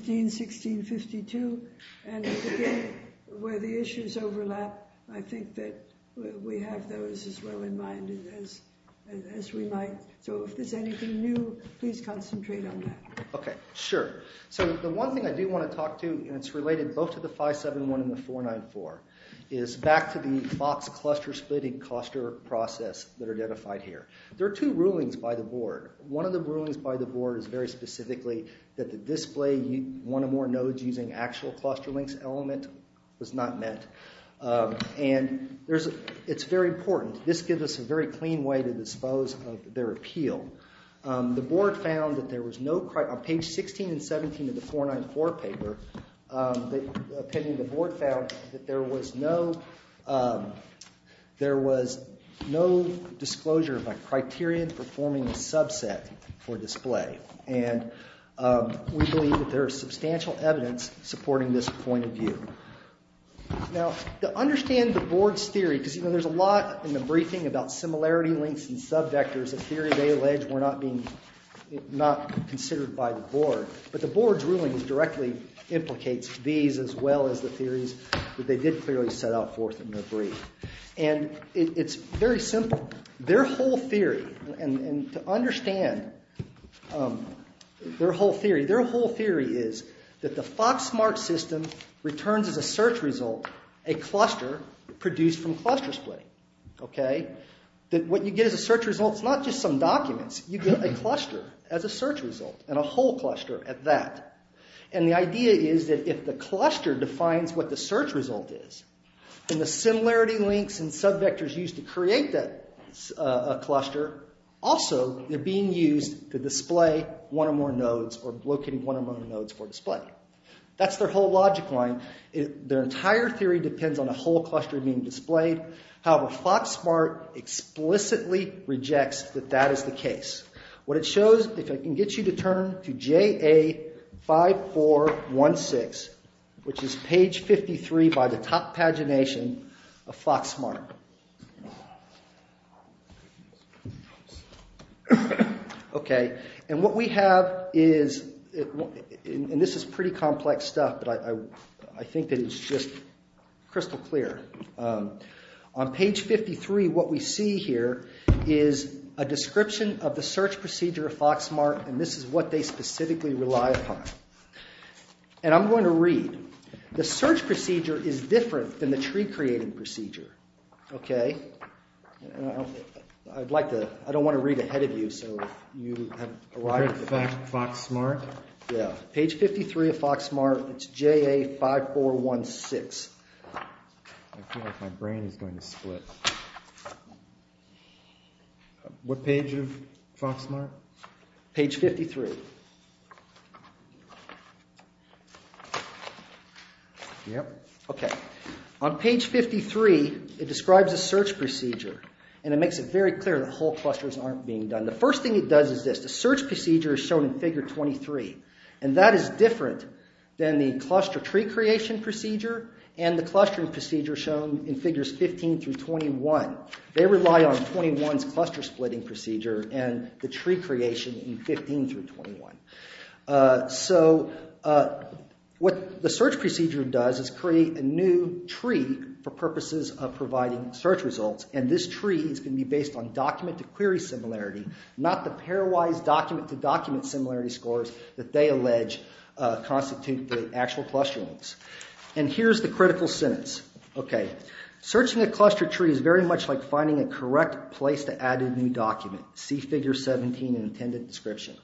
15-16-52. And again, where the issues overlap, I think that we have those as well in mind as we might. So if there's anything new, please concentrate on that. Okay, sure. So the one thing I do want to talk to, and it's related both to the 571 and the 494, is back to the box cluster splitting cluster process that are identified here. There are two rulings by the board. One of the rulings by the board is very specifically that the display one or more nodes using actual cluster links element was not met. And it's very important. This gives us a very clean way to dispose of their appeal. The board found that there was no, on page 16 and 17 of the 494 paper, the opinion of the board found that there was no disclosure of a criterion for forming a subset for display. And we believe that there is substantial evidence supporting this point of view. Now, to understand the board's theory, because there's a lot in the briefing about similarity links and subvectors, a theory they allege were not considered by the board. But the board's ruling directly implicates these as well as the theories that they did clearly set out forth in their brief. And it's very simple. Their whole theory is that the Foxmark system returns as a search result a cluster produced from cluster splitting. What you get as a search result is not just some documents. You get a cluster as a search result, and a whole cluster at that. And the idea is that if the cluster defines what the search result is, and the similarity links and subvectors used to create that cluster, also they're being used to display one or more nodes or locating one or more nodes for display. That's their whole logic line. Their entire theory depends on a whole cluster being displayed. However, Foxmark explicitly rejects that that is the case. What it shows, if I can get you to turn to JA5416, which is page 53 by the top pagination of Foxmark. And what we have is, and this is pretty complex stuff, but I think that it's just crystal clear. On page 53, what we see here is a description of the search procedure of Foxmark, and this is what they specifically rely upon. And I'm going to read. The search procedure is different than the tree-creating procedure. I don't want to read ahead of you, so you have arrived at the fact. Page 53 of Foxmark. It's JA5416. I feel like my brain is going to split. What page of Foxmark? Page 53. On page 53, it describes a search procedure, and it makes it very clear that whole clusters aren't being done. The first thing it does is this. The search procedure is shown in figure 23, and that is different than the cluster tree-creation procedure and the clustering procedure shown in figures 15 through 21. They rely on 21's cluster-splitting procedure and the tree-creation in 15 through 21. So what the search procedure does is create a new tree for purposes of providing search results, and this tree is going to be based on document-to-query similarity, not the pairwise document-to-document similarity scores that they allege constitute the actual cluster links. And here's the critical sentence. Searching a cluster tree is very much like finding a correct place to add a new document. See figure 17 in the intended description.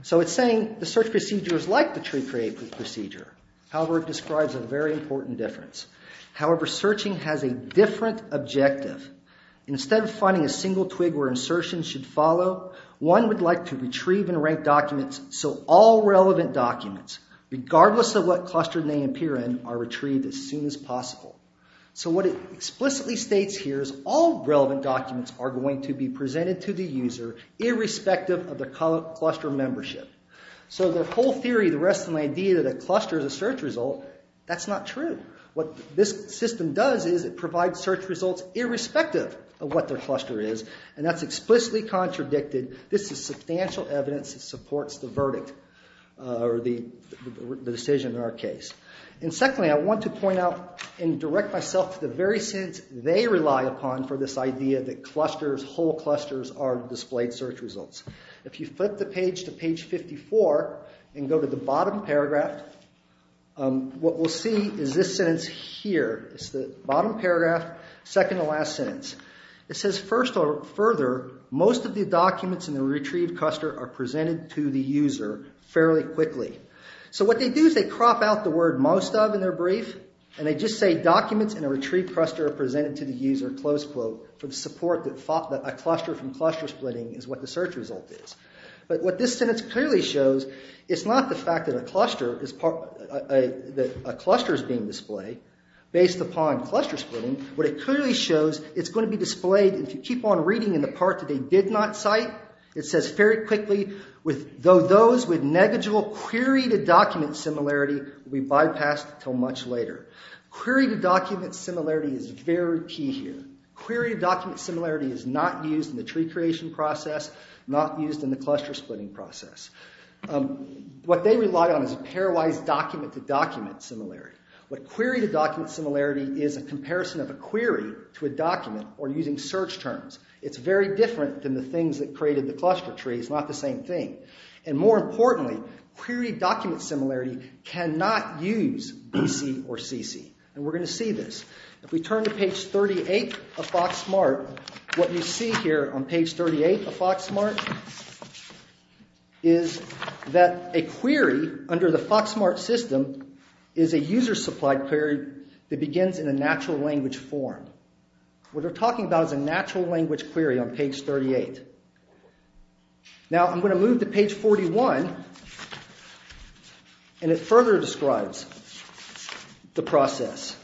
So it's saying the search procedure is like the tree-creation procedure. However, it describes a very important difference. However, searching has a different objective. Instead of finding a single twig where insertion should follow, one would like to retrieve and rank documents so all relevant documents, regardless of what cluster they appear in, are retrieved as soon as possible. So what it explicitly states here is all relevant documents are going to be presented to the user irrespective of the cluster membership. So the whole theory, the rest of the idea that a cluster is a search result, that's not true. What this system does is it provides search results irrespective of what their cluster is, and that's explicitly contradicted. This is substantial evidence that supports the verdict or the decision in our case. And secondly, I want to point out and direct myself to the very sentence they rely upon for this idea that clusters, whole clusters, are displayed search results. If you flip the page to page 54 and go to the bottom paragraph, what we'll see is this sentence here. It's the bottom paragraph, second to last sentence. It says, first or further, most of the documents in the retrieved cluster are presented to the user fairly quickly. So what they do is they crop out the word most of in their brief, and they just say documents in a retrieved cluster are presented to the user, close quote, for the support that a cluster from cluster splitting is what the search result is. But what this sentence clearly shows, it's not the fact that a cluster is being displayed based upon cluster splitting. What it clearly shows, it's going to be displayed, if you keep on reading in the part that they did not cite, it says very quickly, though those with negligible query-to-document similarity will be bypassed until much later. Query-to-document similarity is very key here. Query-to-document similarity is not used in the tree creation process, not used in the cluster splitting process. What they rely on is a pairwise document-to-document similarity. What query-to-document similarity is a comparison of a query to a document or using search terms. It's very different than the things that created the cluster tree. It's not the same thing. And more importantly, query-to-document similarity cannot use BC or CC. And we're going to see this. If we turn to page 38 of FoxSmart, what you see here on page 38 of FoxSmart is that a query under the FoxSmart system is a user-supplied query that begins in a natural language form. What they're talking about is a natural language query on page 38. Now, I'm going to move to page 41, and it further describes the process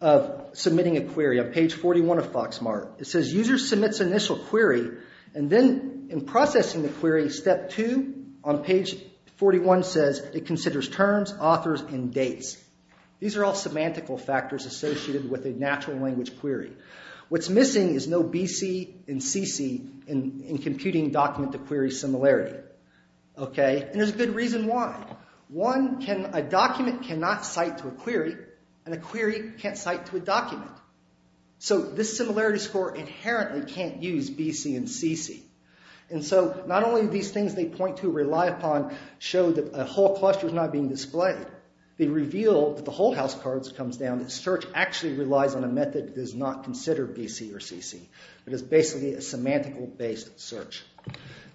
of submitting a query on page 41 of FoxSmart. It says user submits initial query, and then in processing the query, step 2 on page 41 says it considers terms, authors, and dates. These are all semantical factors associated with a natural language query. What's missing is no BC and CC in computing document-to-query similarity. And there's a good reason why. One, a document cannot cite to a query, and a query can't cite to a document. So this similarity score inherently can't use BC and CC. And so not only do these things they point to rely upon show that a whole cluster is not being displayed, they reveal that the whole house of cards comes down that search actually relies on a method that does not consider BC or CC. It is basically a semantical-based search.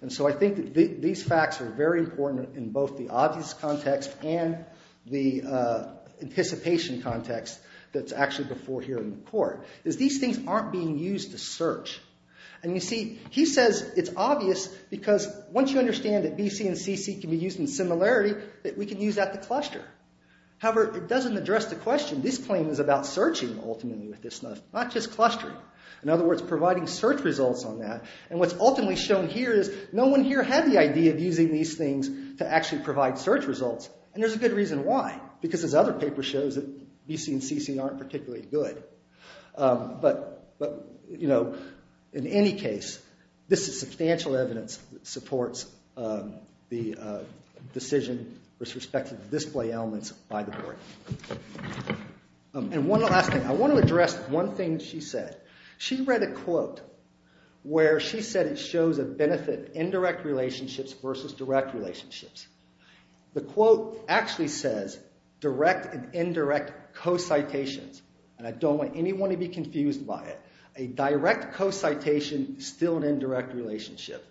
And so I think that these facts are very important in both the obvious context and the anticipation context that's actually before hearing the court. These things aren't being used to search. And you see, he says it's obvious because once you understand that BC and CC can be used in similarity, that we can use that to cluster. However, it doesn't address the question. This claim is about searching ultimately with this method, not just clustering. In other words, providing search results on that. And what's ultimately shown here is no one here had the idea of using these things to actually provide search results. And there's a good reason why. Because as other papers show, BC and CC aren't particularly good. But in any case, this is substantial evidence that supports the decision with respect to display elements by the court. And one last thing. I want to address one thing she said. She read a quote where she said it shows a benefit in indirect relationships versus direct relationships. The quote actually says direct and indirect co-citations. And I don't want anyone to be confused by it. A direct co-citation is still an indirect relationship.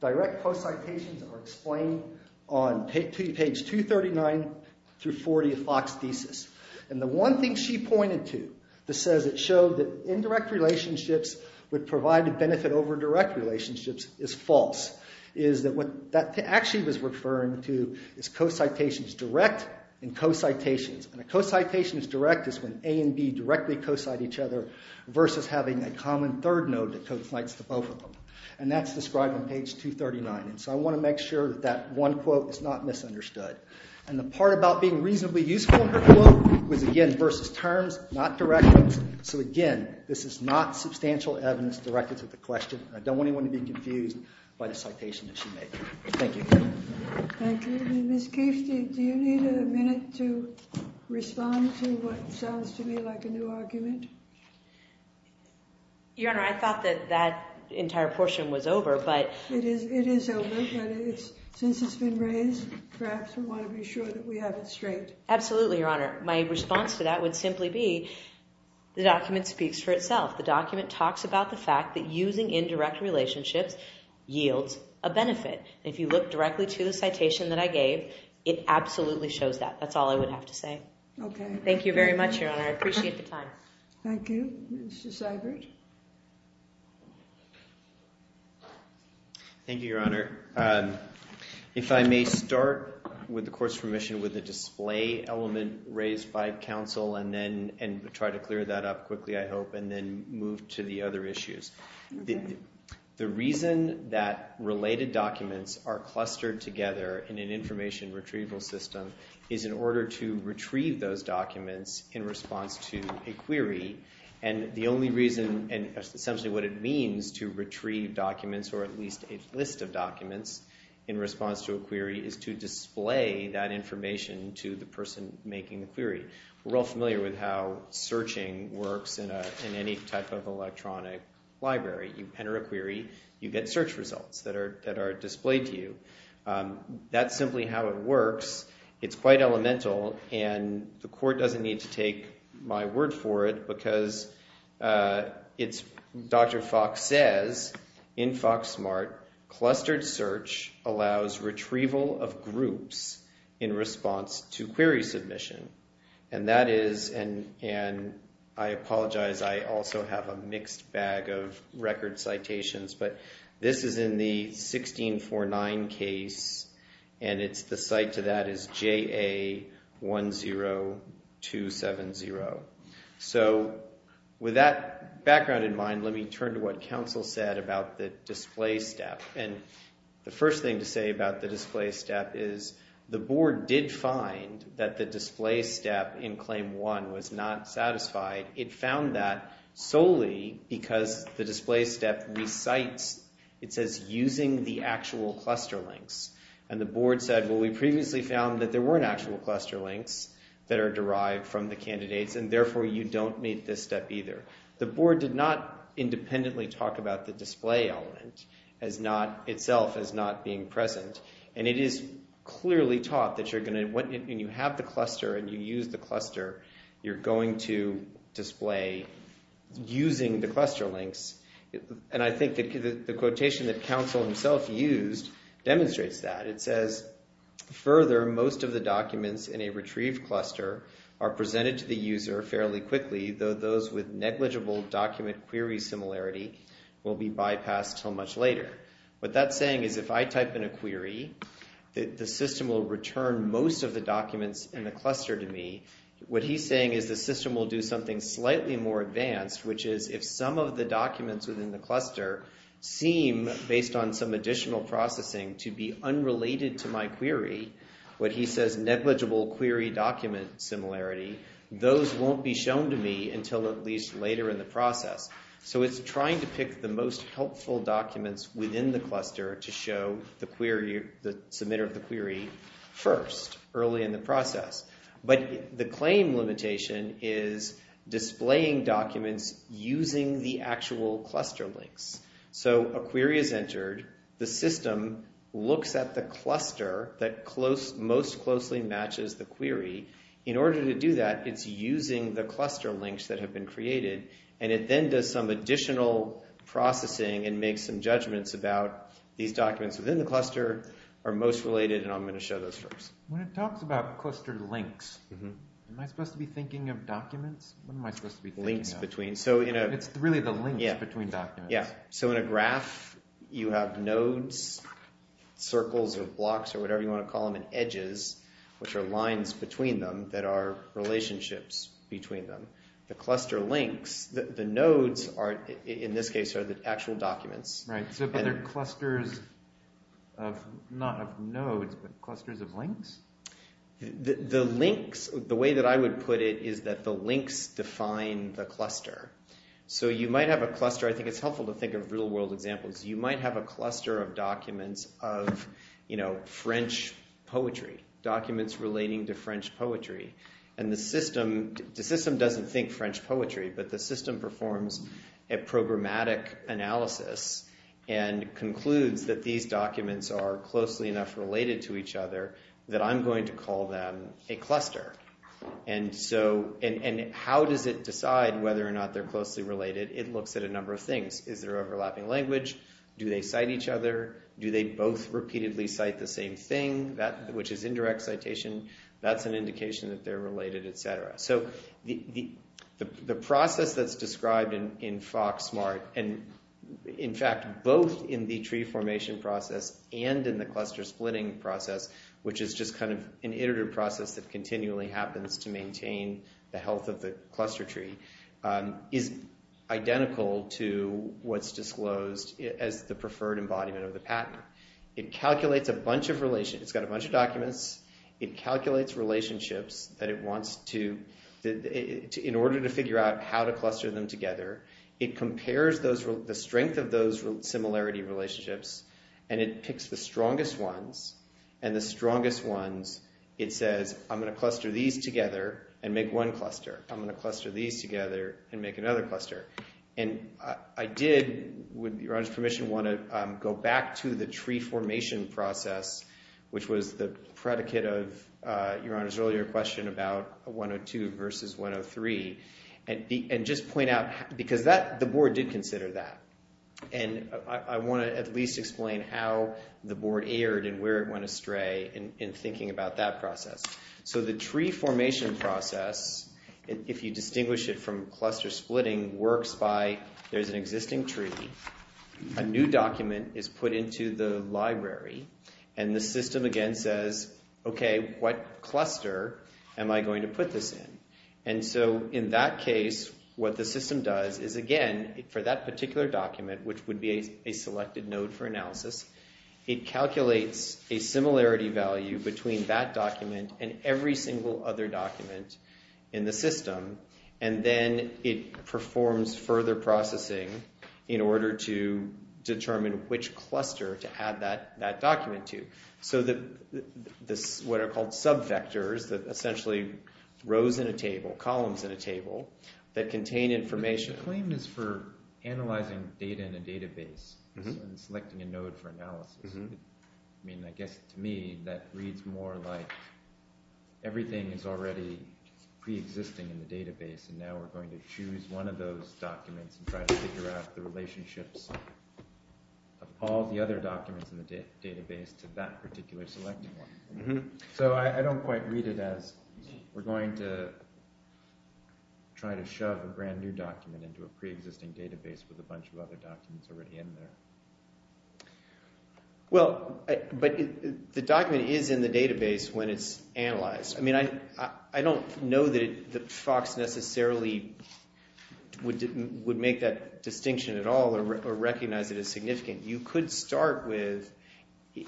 Direct co-citations are explained on page 239 through 40 of Fox's thesis. And the one thing she pointed to that says it showed that indirect relationships would provide a benefit over direct relationships is false. Is that what that actually was referring to is co-citations direct and co-citations. And a co-citation is direct is when A and B directly co-cite each other versus having a common third node that co-cites the both of them. And that's described on page 239. And so I want to make sure that that one quote is not misunderstood. And the part about being reasonably useful in her quote was, again, versus terms, not directions. So, again, this is not substantial evidence directed to the question. And I don't want anyone to be confused by the citation that she made. Thank you. Thank you. Ms. Kief, do you need a minute to respond to what sounds to me like a new argument? Your Honor, I thought that that entire portion was over. It is over, but since it's been raised, perhaps we want to be sure that we have it straight. Absolutely, Your Honor. My response to that would simply be the document speaks for itself. The document talks about the fact that using indirect relationships yields a benefit. And if you look directly to the citation that I gave, it absolutely shows that. That's all I would have to say. Okay. Thank you very much, Your Honor. I appreciate the time. Thank you. Mr. Seibert. Thank you, Your Honor. If I may start, with the Court's permission, with the display element raised by counsel and then try to clear that up quickly, I hope, and then move to the other issues. Okay. The reason that related documents are clustered together in an information retrieval system is in order to retrieve those documents in response to a query. And the only reason, and essentially what it means to retrieve documents, or at least a list of documents in response to a query, is to display that information to the person making the query. We're all familiar with how searching works in any type of electronic library. You enter a query. You get search results that are displayed to you. That's simply how it works. It's quite elemental, and the Court doesn't need to take my word for it because Dr. Fox says in FoxSmart, clustered search allows retrieval of groups in response to query submission. And that is, and I apologize, I also have a mixed bag of record citations, but this is in the 1649 case, and the cite to that is JA10270. So with that background in mind, let me turn to what counsel said about the display step. And the first thing to say about the display step is the Board did find that the display step in Claim 1 was not satisfied. It found that solely because the display step recites, it says, using the actual cluster links. And the Board said, well, we previously found that there weren't actual cluster links that are derived from the candidates, and therefore you don't meet this step either. The Board did not independently talk about the display element as not, itself as not being present. And it is clearly taught that you're going to, when you have the cluster and you use the cluster, you're going to display using the cluster links. And I think the quotation that counsel himself used demonstrates that. It says, further, most of the documents in a retrieved cluster are presented to the user fairly quickly, though those with negligible document query similarity will be bypassed until much later. What that's saying is if I type in a query, the system will return most of the documents in the cluster to me. What he's saying is the system will do something slightly more advanced, which is if some of the documents within the cluster seem, based on some additional processing, to be unrelated to my query, what he says negligible query document similarity, those won't be shown to me until at least later in the process. So it's trying to pick the most helpful documents within the cluster to show the query, the submitter of the query first, early in the process. But the claim limitation is displaying documents using the actual cluster links. So a query is entered, the system looks at the cluster that most closely matches the query. In order to do that, it's using the cluster links that have been created, and it then does some additional processing and makes some judgments about these documents within the cluster are most related, and I'm going to show those first. When it talks about cluster links, am I supposed to be thinking of documents? What am I supposed to be thinking of? Links between. It's really the links between documents. Yeah. So in a graph, you have nodes, circles, or blocks, or whatever you want to call them, and edges, which are lines between them that are relationships between them. The cluster links, the nodes, in this case, are the actual documents. Right, so they're clusters of not of nodes, but clusters of links? The links, the way that I would put it is that the links define the cluster. So you might have a cluster, I think it's helpful to think of real world examples, you might have a cluster of documents of, you know, French poetry, documents relating to French poetry. And the system, the system doesn't think French poetry, but the system performs a programmatic analysis and concludes that these documents are closely enough related to each other that I'm going to call them a cluster. And so, and how does it decide whether or not they're closely related? It looks at a number of things. Is there overlapping language? Do they cite each other? Do they both repeatedly cite the same thing? That, which is indirect citation, that's an indication that they're related, etc. So, the process that's described in FOXSMART, and in fact, both in the tree formation process and in the cluster splitting process, which is just kind of an iterative process that continually happens to maintain the health of the cluster tree, is identical to what's disclosed as the preferred embodiment of the patent. It calculates a bunch of relations, it's got a bunch of documents, it calculates relationships that it wants to, in order to figure out how to cluster them together, it compares those, the strength of those similarity relationships, and it picks the strongest ones, and the strongest ones, it says, I'm going to cluster these together and make one cluster. I'm going to cluster these together and make another cluster. And I did, with Your Honor's permission, want to go back to the tree formation process, which was the predicate of Your Honor's earlier question about 102 versus 103, and just point out, because the board did consider that. And I want to at least explain how the board erred and where it went astray in thinking about that process. So the tree formation process, if you distinguish it from cluster splitting, works by, there's an existing tree, a new document is put into the library, and the system again says, okay, what cluster am I going to put this in? And so in that case, what the system does is again, for that particular document, which would be a selected node for analysis, it calculates a similarity value between that document and every single other document in the system, and then it performs further processing in order to determine which cluster to add that document to. So what are called sub-vectors, that essentially rows in a table, columns in a table, that contain information. The claim is for analyzing data in a database and selecting a node for analysis. I mean, I guess to me, that reads more like everything is already pre-existing in the database, and now we're going to choose one of those documents and try to figure out the relationships of all the other documents in the database to that particular selected one. So I don't quite read it as we're going to try to shove a brand new document into a pre-existing database with a bunch of other documents already in there. Well, but the document is in the database when it's analyzed. I mean, I don't know that FOX necessarily would make that distinction at all or recognize it as significant.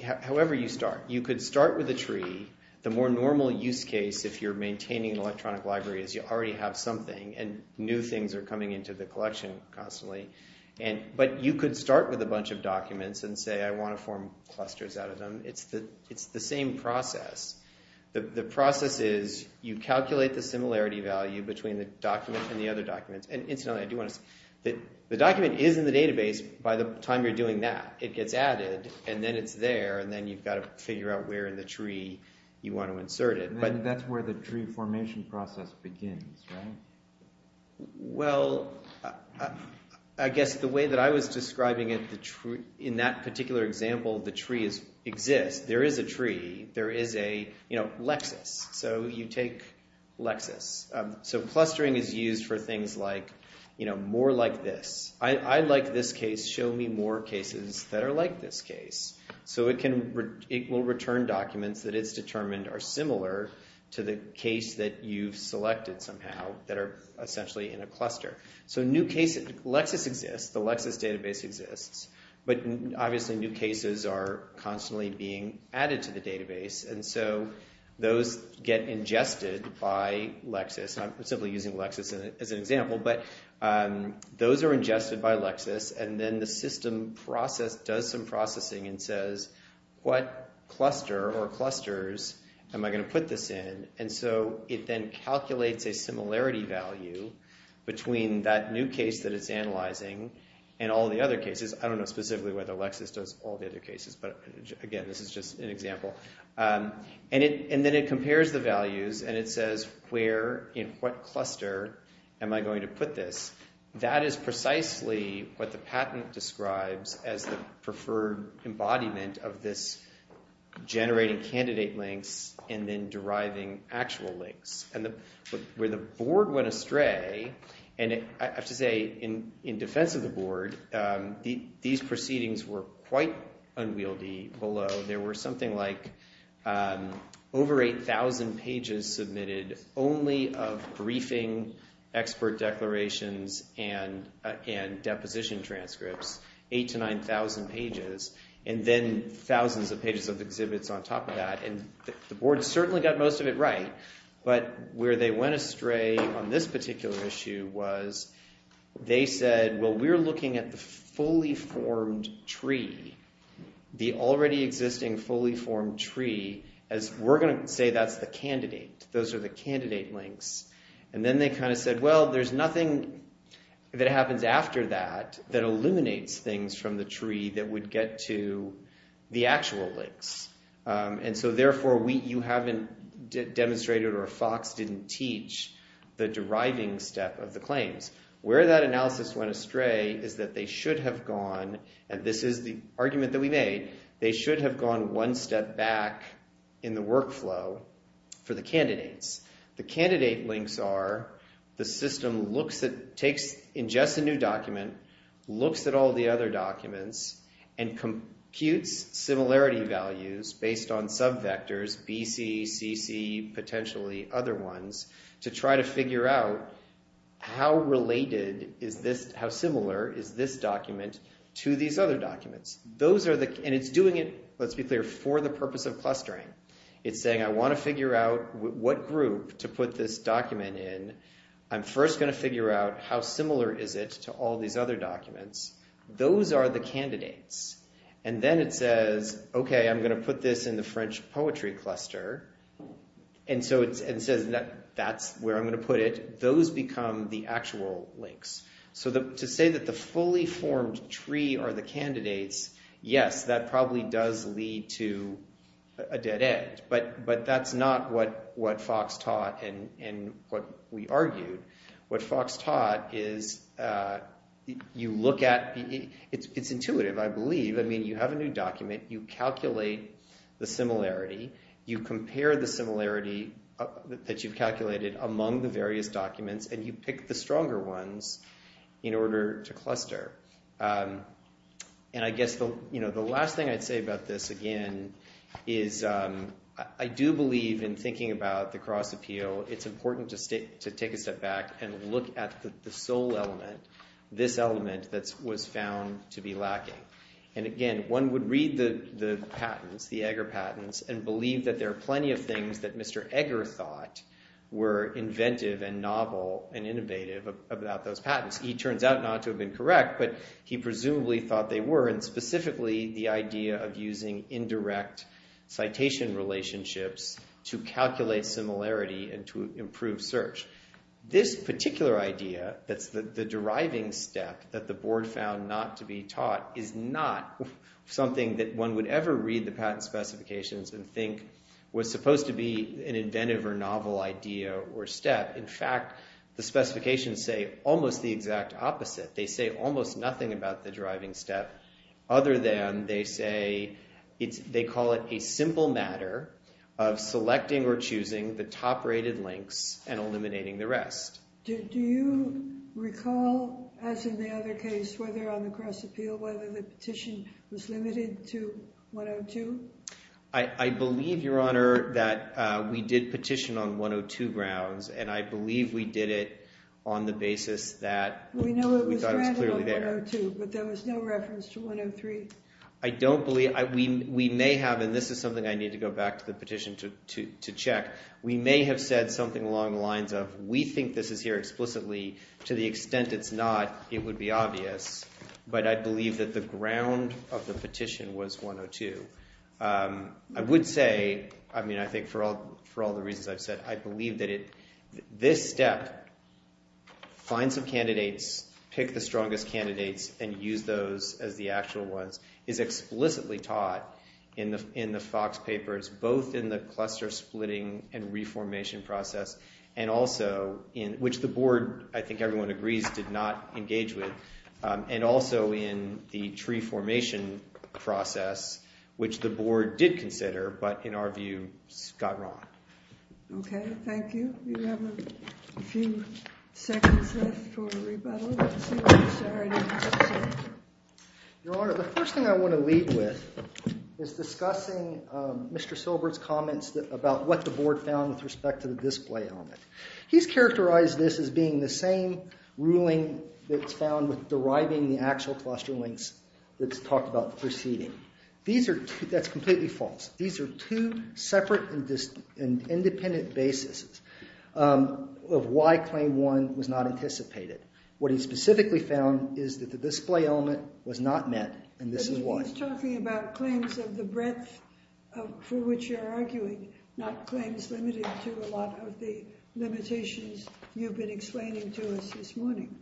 However you start, you could start with a tree. The more normal use case, if you're maintaining an electronic library, is you already have something, and new things are coming into the collection constantly. But you could start with a bunch of documents and say, I want to form clusters out of them. It's the same process. The process is you calculate the similarity value between the document and the other documents. And incidentally, I do want to say that the document is in the database by the time you're doing that. It gets added, and then it's there, and then you've got to figure out where in the tree you want to insert it. And that's where the tree formation process begins, right? Well, I guess the way that I was describing it, in that particular example, the tree exists. There is a tree. There is a Lexis. So you take Lexis. So clustering is used for things like more like this. I like this case. Show me more cases that are like this case. So it will return documents that it's determined are similar to the case that you've selected somehow that are essentially in a cluster. So Lexis exists. The Lexis database exists. But obviously new cases are constantly being added to the database, and so those get ingested by Lexis. I'm simply using Lexis as an example, but those are ingested by Lexis, and then the system does some processing and says, what cluster or clusters am I going to put this in? And so it then calculates a similarity value between that new case that it's analyzing and all the other cases. I don't know specifically whether Lexis does all the other cases, but again, this is just an example. And then it compares the values, and it says, where in what cluster am I going to put this? That is precisely what the patent describes as the preferred embodiment of this generating candidate links and then deriving actual links. And where the board went astray, and I have to say in defense of the board, these proceedings were quite unwieldy below. There were something like over 8,000 pages submitted only of briefing expert declarations and deposition transcripts, 8,000 to 9,000 pages, and then thousands of pages of exhibits on top of that. And the board certainly got most of it right, but where they went astray on this particular issue was they said, well, we're looking at the fully formed tree, the already existing fully formed tree, as we're going to say that's the candidate. Those are the candidate links. And then they kind of said, well, there's nothing that happens after that that illuminates things from the tree that would get to the actual links. And so therefore, you haven't demonstrated or Fox didn't teach the deriving step of the claims. Where that analysis went astray is that they should have gone, and this is the argument that we made, they should have gone one step back in the workflow for the candidates. The candidate links are the system looks at, takes, ingests a new document, looks at all the other documents, and computes similarity values based on subvectors, BC, CC, potentially other ones, to try to figure out how related is this, how similar is this document to these other documents. And it's doing it, let's be clear, for the purpose of clustering. It's saying, I want to figure out what group to put this document in. I'm first going to figure out how similar is it to all these other documents. Those are the candidates. And then it says, okay, I'm going to put this in the French poetry cluster. And so it says, that's where I'm going to put it. Those become the actual links. So to say that the fully formed tree are the candidates, yes, that probably does lead to a dead end. But that's not what Fox taught and what we argued. What Fox taught is you look at, it's intuitive, I believe. I mean, you have a new document, you calculate the similarity, you compare the similarity that you've calculated among the various documents, and you pick the stronger ones in order to cluster. And I guess the last thing I'd say about this, again, is I do believe in thinking about the cross appeal, it's important to take a step back and look at the sole element, this element that was found to be lacking. And again, one would read the patents, the Egger patents, and believe that there are plenty of things that Mr. Egger thought were inventive and novel and innovative about those patents. He turns out not to have been correct, but he presumably thought they were, and specifically the idea of using indirect citation relationships to calculate similarity and to improve search. This particular idea, that's the deriving step that the board found not to be taught, is not something that one would ever read the patent specifications and think was supposed to be an inventive or novel idea or step. In fact, the specifications say almost the exact opposite. They say almost nothing about the deriving step other than they say, they call it a simple matter of selecting or choosing the top rated links and eliminating the rest. Do you recall, as in the other case, whether on the cross appeal, whether the petition was limited to 102? I believe, Your Honor, that we did petition on 102 grounds, and I believe we did it on the basis that we thought it was clearly there. We know it was granted on 102, but there was no reference to 103. I don't believe – we may have, and this is something I need to go back to the petition to check. We may have said something along the lines of we think this is here explicitly. To the extent it's not, it would be obvious, but I believe that the ground of the petition was 102. I would say – I mean, I think for all the reasons I've said, I believe that this step, find some candidates, pick the strongest candidates, and use those as the actual ones, is explicitly taught in the Fox papers, both in the cluster splitting and reformation process, and also in – which the board, I think everyone agrees, did not engage with, and also in the tree formation process. Which the board did consider, but in our view, got wrong. Okay, thank you. We have a few seconds left for rebuttal. Your Honor, the first thing I want to leave with is discussing Mr. Silbert's comments about what the board found with respect to the display element. He's characterized this as being the same ruling that's found with deriving the actual cluster links that's talked about preceding. These are – that's completely false. These are two separate and independent bases of why Claim 1 was not anticipated. What he specifically found is that the display element was not met, and this is why. But he's talking about claims of the breadth for which you're arguing, not claims limited to a lot of the limitations you've been explaining to us this morning.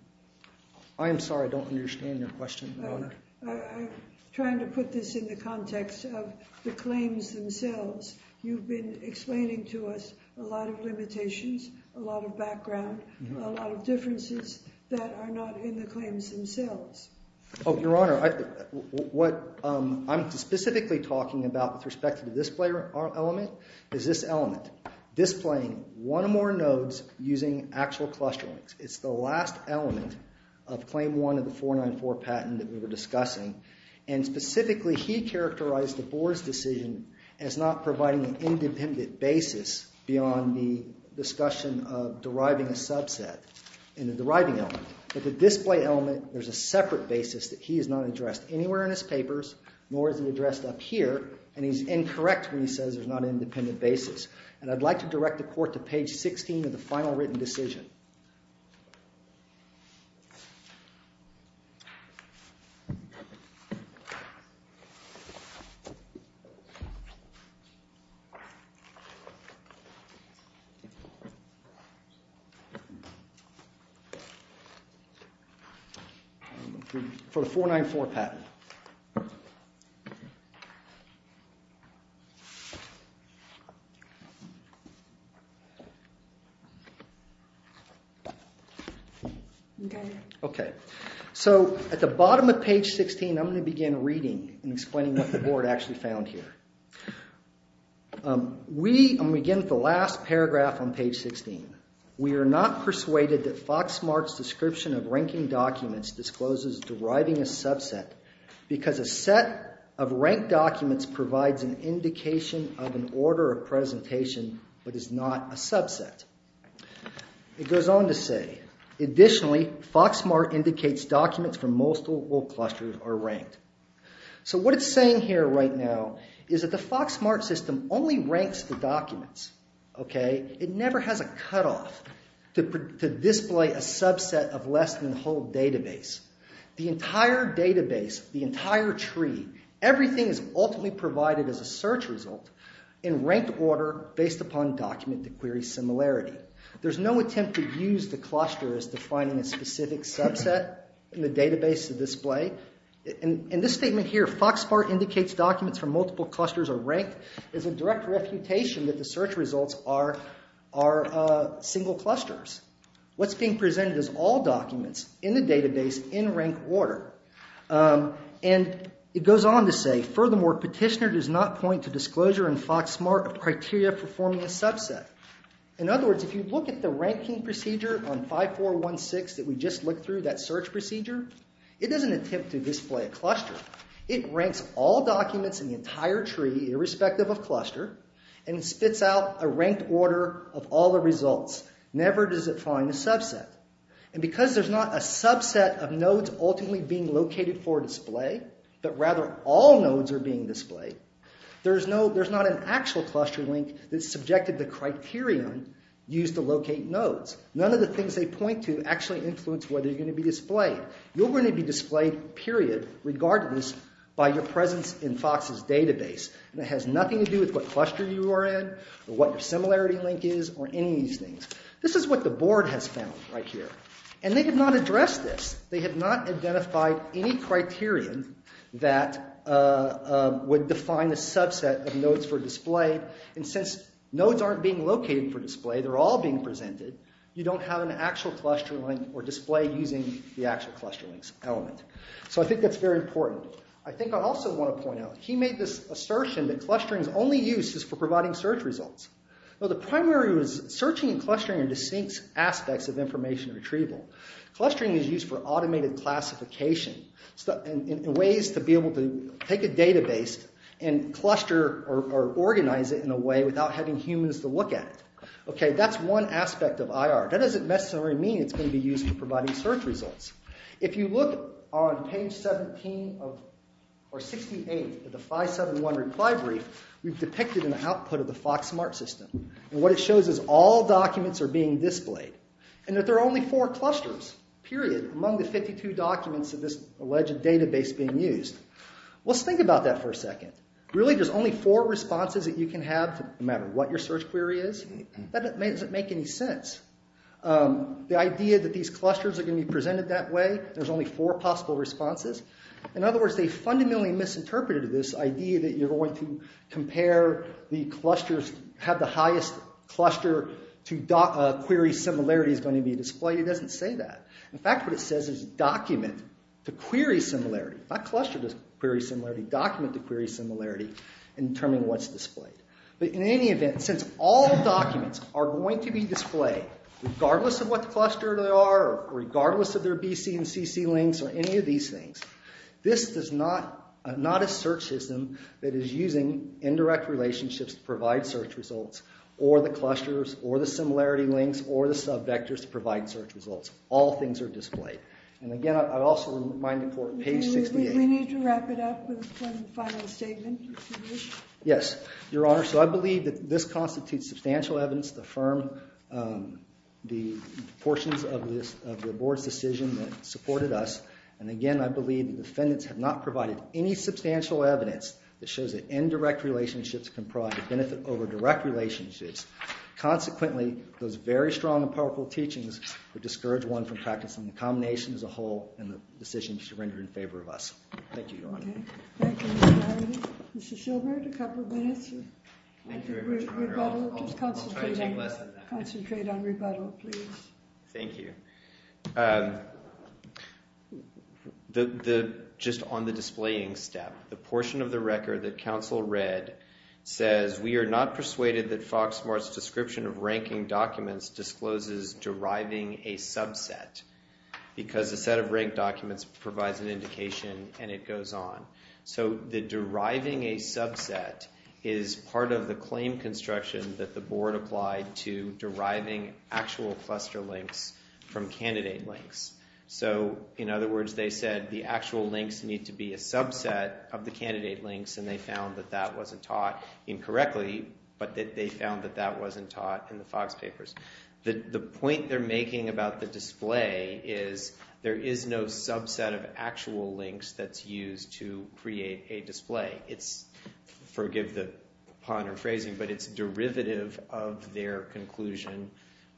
I am sorry, I don't understand your question, Your Honor. I'm trying to put this in the context of the claims themselves. You've been explaining to us a lot of limitations, a lot of background, a lot of differences that are not in the claims themselves. Oh, Your Honor, what I'm specifically talking about with respect to the display element is this element. Displaying one or more nodes using actual cluster links. It's the last element of Claim 1 of the 494 patent that we were discussing. And specifically, he characterized the board's decision as not providing an independent basis beyond the discussion of deriving a subset in the deriving element. With the display element, there's a separate basis that he has not addressed anywhere in his papers, nor is it addressed up here. And he's incorrect when he says there's not an independent basis. And I'd like to direct the court to page 16 of the final written decision for the 494 patent. Okay. So at the bottom of page 16, I'm going to begin reading and explaining what the board actually found here. I'm going to begin with the last paragraph on page 16. We are not persuaded that FoxSmart's description of ranking documents discloses deriving a subset because a set of ranked documents provides an indication of an order of presentation but is not a subset. It goes on to say, additionally, FoxSmart indicates documents from multiple clusters are ranked. So what it's saying here right now is that the FoxSmart system only ranks the documents. It never has a cutoff to display a subset of less than the whole database. The entire database, the entire tree, everything is ultimately provided as a search result in ranked order based upon document to query similarity. There's no attempt to use the cluster as defining a specific subset in the database to display. In this statement here, FoxSmart indicates documents from multiple clusters are ranked. There's a direct reputation that the search results are single clusters. What's being presented is all documents in the database in ranked order. And it goes on to say, furthermore, petitioner does not point to disclosure in FoxSmart of criteria for forming a subset. In other words, if you look at the ranking procedure on 5416 that we just looked through, that search procedure, it doesn't attempt to display a cluster. It ranks all documents in the entire tree irrespective of cluster and spits out a ranked order of all the results. Never does it find a subset. And because there's not a subset of nodes ultimately being located for display, but rather all nodes are being displayed, there's not an actual cluster link that's subjected to criterion used to locate nodes. None of the things they point to actually influence whether you're going to be displayed. You're going to be displayed, period, regardless by your presence in Fox's database. And it has nothing to do with what cluster you are in or what your similarity link is or any of these things. This is what the board has found right here. And they have not addressed this. They have not identified any criterion that would define a subset of nodes for display. And since nodes aren't being located for display, they're all being presented, you don't have an actual cluster link or display using the actual cluster link's element. So I think that's very important. I think I also want to point out, he made this assertion that clustering's only use is for providing search results. Well, the primary was searching and clustering are distinct aspects of information retrieval. Clustering is used for automated classification, in ways to be able to take a database and cluster or organize it in a way without having humans to look at it. Okay, that's one aspect of IR. That doesn't necessarily mean it's going to be used for providing search results. If you look on page 68 of the 571 reply brief, we've depicted an output of the FoxSmart system. And what it shows is all documents are being displayed. And that there are only four clusters, period, among the 52 documents of this alleged database being used. Let's think about that for a second. Really, there's only four responses that you can have no matter what your search query is? That doesn't make any sense. The idea that these clusters are going to be presented that way, there's only four possible responses. In other words, they fundamentally misinterpreted this idea that you're going to compare the clusters, have the highest cluster to query similarity is going to be displayed. It doesn't say that. In fact, what it says is document to query similarity. Not cluster to query similarity, document to query similarity in determining what's displayed. But in any event, since all documents are going to be displayed, regardless of what cluster they are, regardless of their BC and CC links, or any of these things, this is not a search system that is using indirect relationships to provide search results, or the clusters, or the similarity links, or the subvectors to provide search results. All things are displayed. And again, I also remind you for page 68. We need to wrap it up with one final statement. Yes, Your Honor. So I believe that this constitutes substantial evidence to affirm the portions of the board's decision that supported us. And again, I believe the defendants have not provided any substantial evidence that shows that indirect relationships can provide a benefit over direct relationships. Consequently, those very strong and powerful teachings would discourage one from practicing the combination as a whole and the decisions you rendered in favor of us. Thank you, Your Honor. Okay. Thank you, Mr. Howard. Mr. Shilbert, a couple of minutes. Thank you very much, Your Honor. I'll try to take less of that. Concentrate on rebuttal, please. Thank you. Just on the displaying step, the portion of the record that counsel read says, we are not persuaded that Foxsmart's description of ranking documents discloses deriving a subset because the set of ranked documents provides an indication and it goes on. So the deriving a subset is part of the claim construction that the board applied to deriving actual cluster links from candidate links. So in other words, they said the actual links need to be a subset of the candidate links, and they found that that wasn't taught incorrectly, but that they found that that wasn't taught in the Fox papers. The point they're making about the display is there is no subset of actual links that's used to create a display. It's, forgive the pun or phrasing, but it's derivative of their conclusion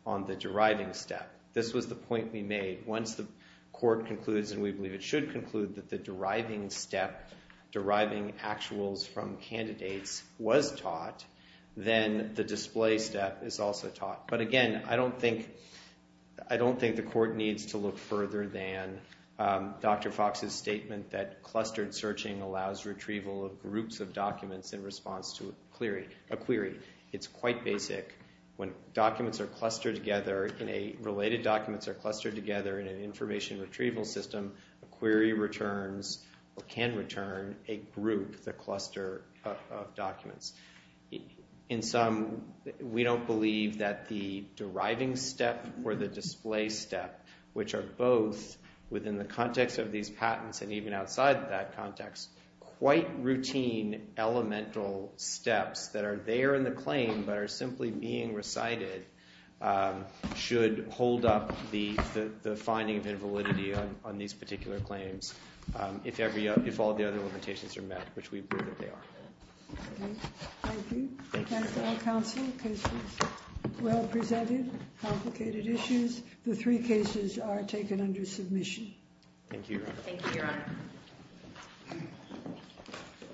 on the deriving step. This was the point we made. Once the court concludes, and we believe it should conclude, that the deriving step, deriving actuals from candidates was taught, then the display step is also taught. But again, I don't think the court needs to look further than Dr. Fox's statement that clustered searching allows retrieval of groups of documents in response to a query. It's quite basic. When related documents are clustered together in an information retrieval system, a query returns or can return a group, the cluster of documents. In sum, we don't believe that the deriving step or the display step, which are both within the context of these patents and even outside that context, quite routine elemental steps that are there in the claim but are simply being recited, should hold up the finding of invalidity on these particular claims if all the other limitations are met, which we believe that they are. Thank you. Thanks to our counsel. The case was well presented, complicated issues. The three cases are taken under submission. Thank you, Your Honor. Thank you, Your Honor.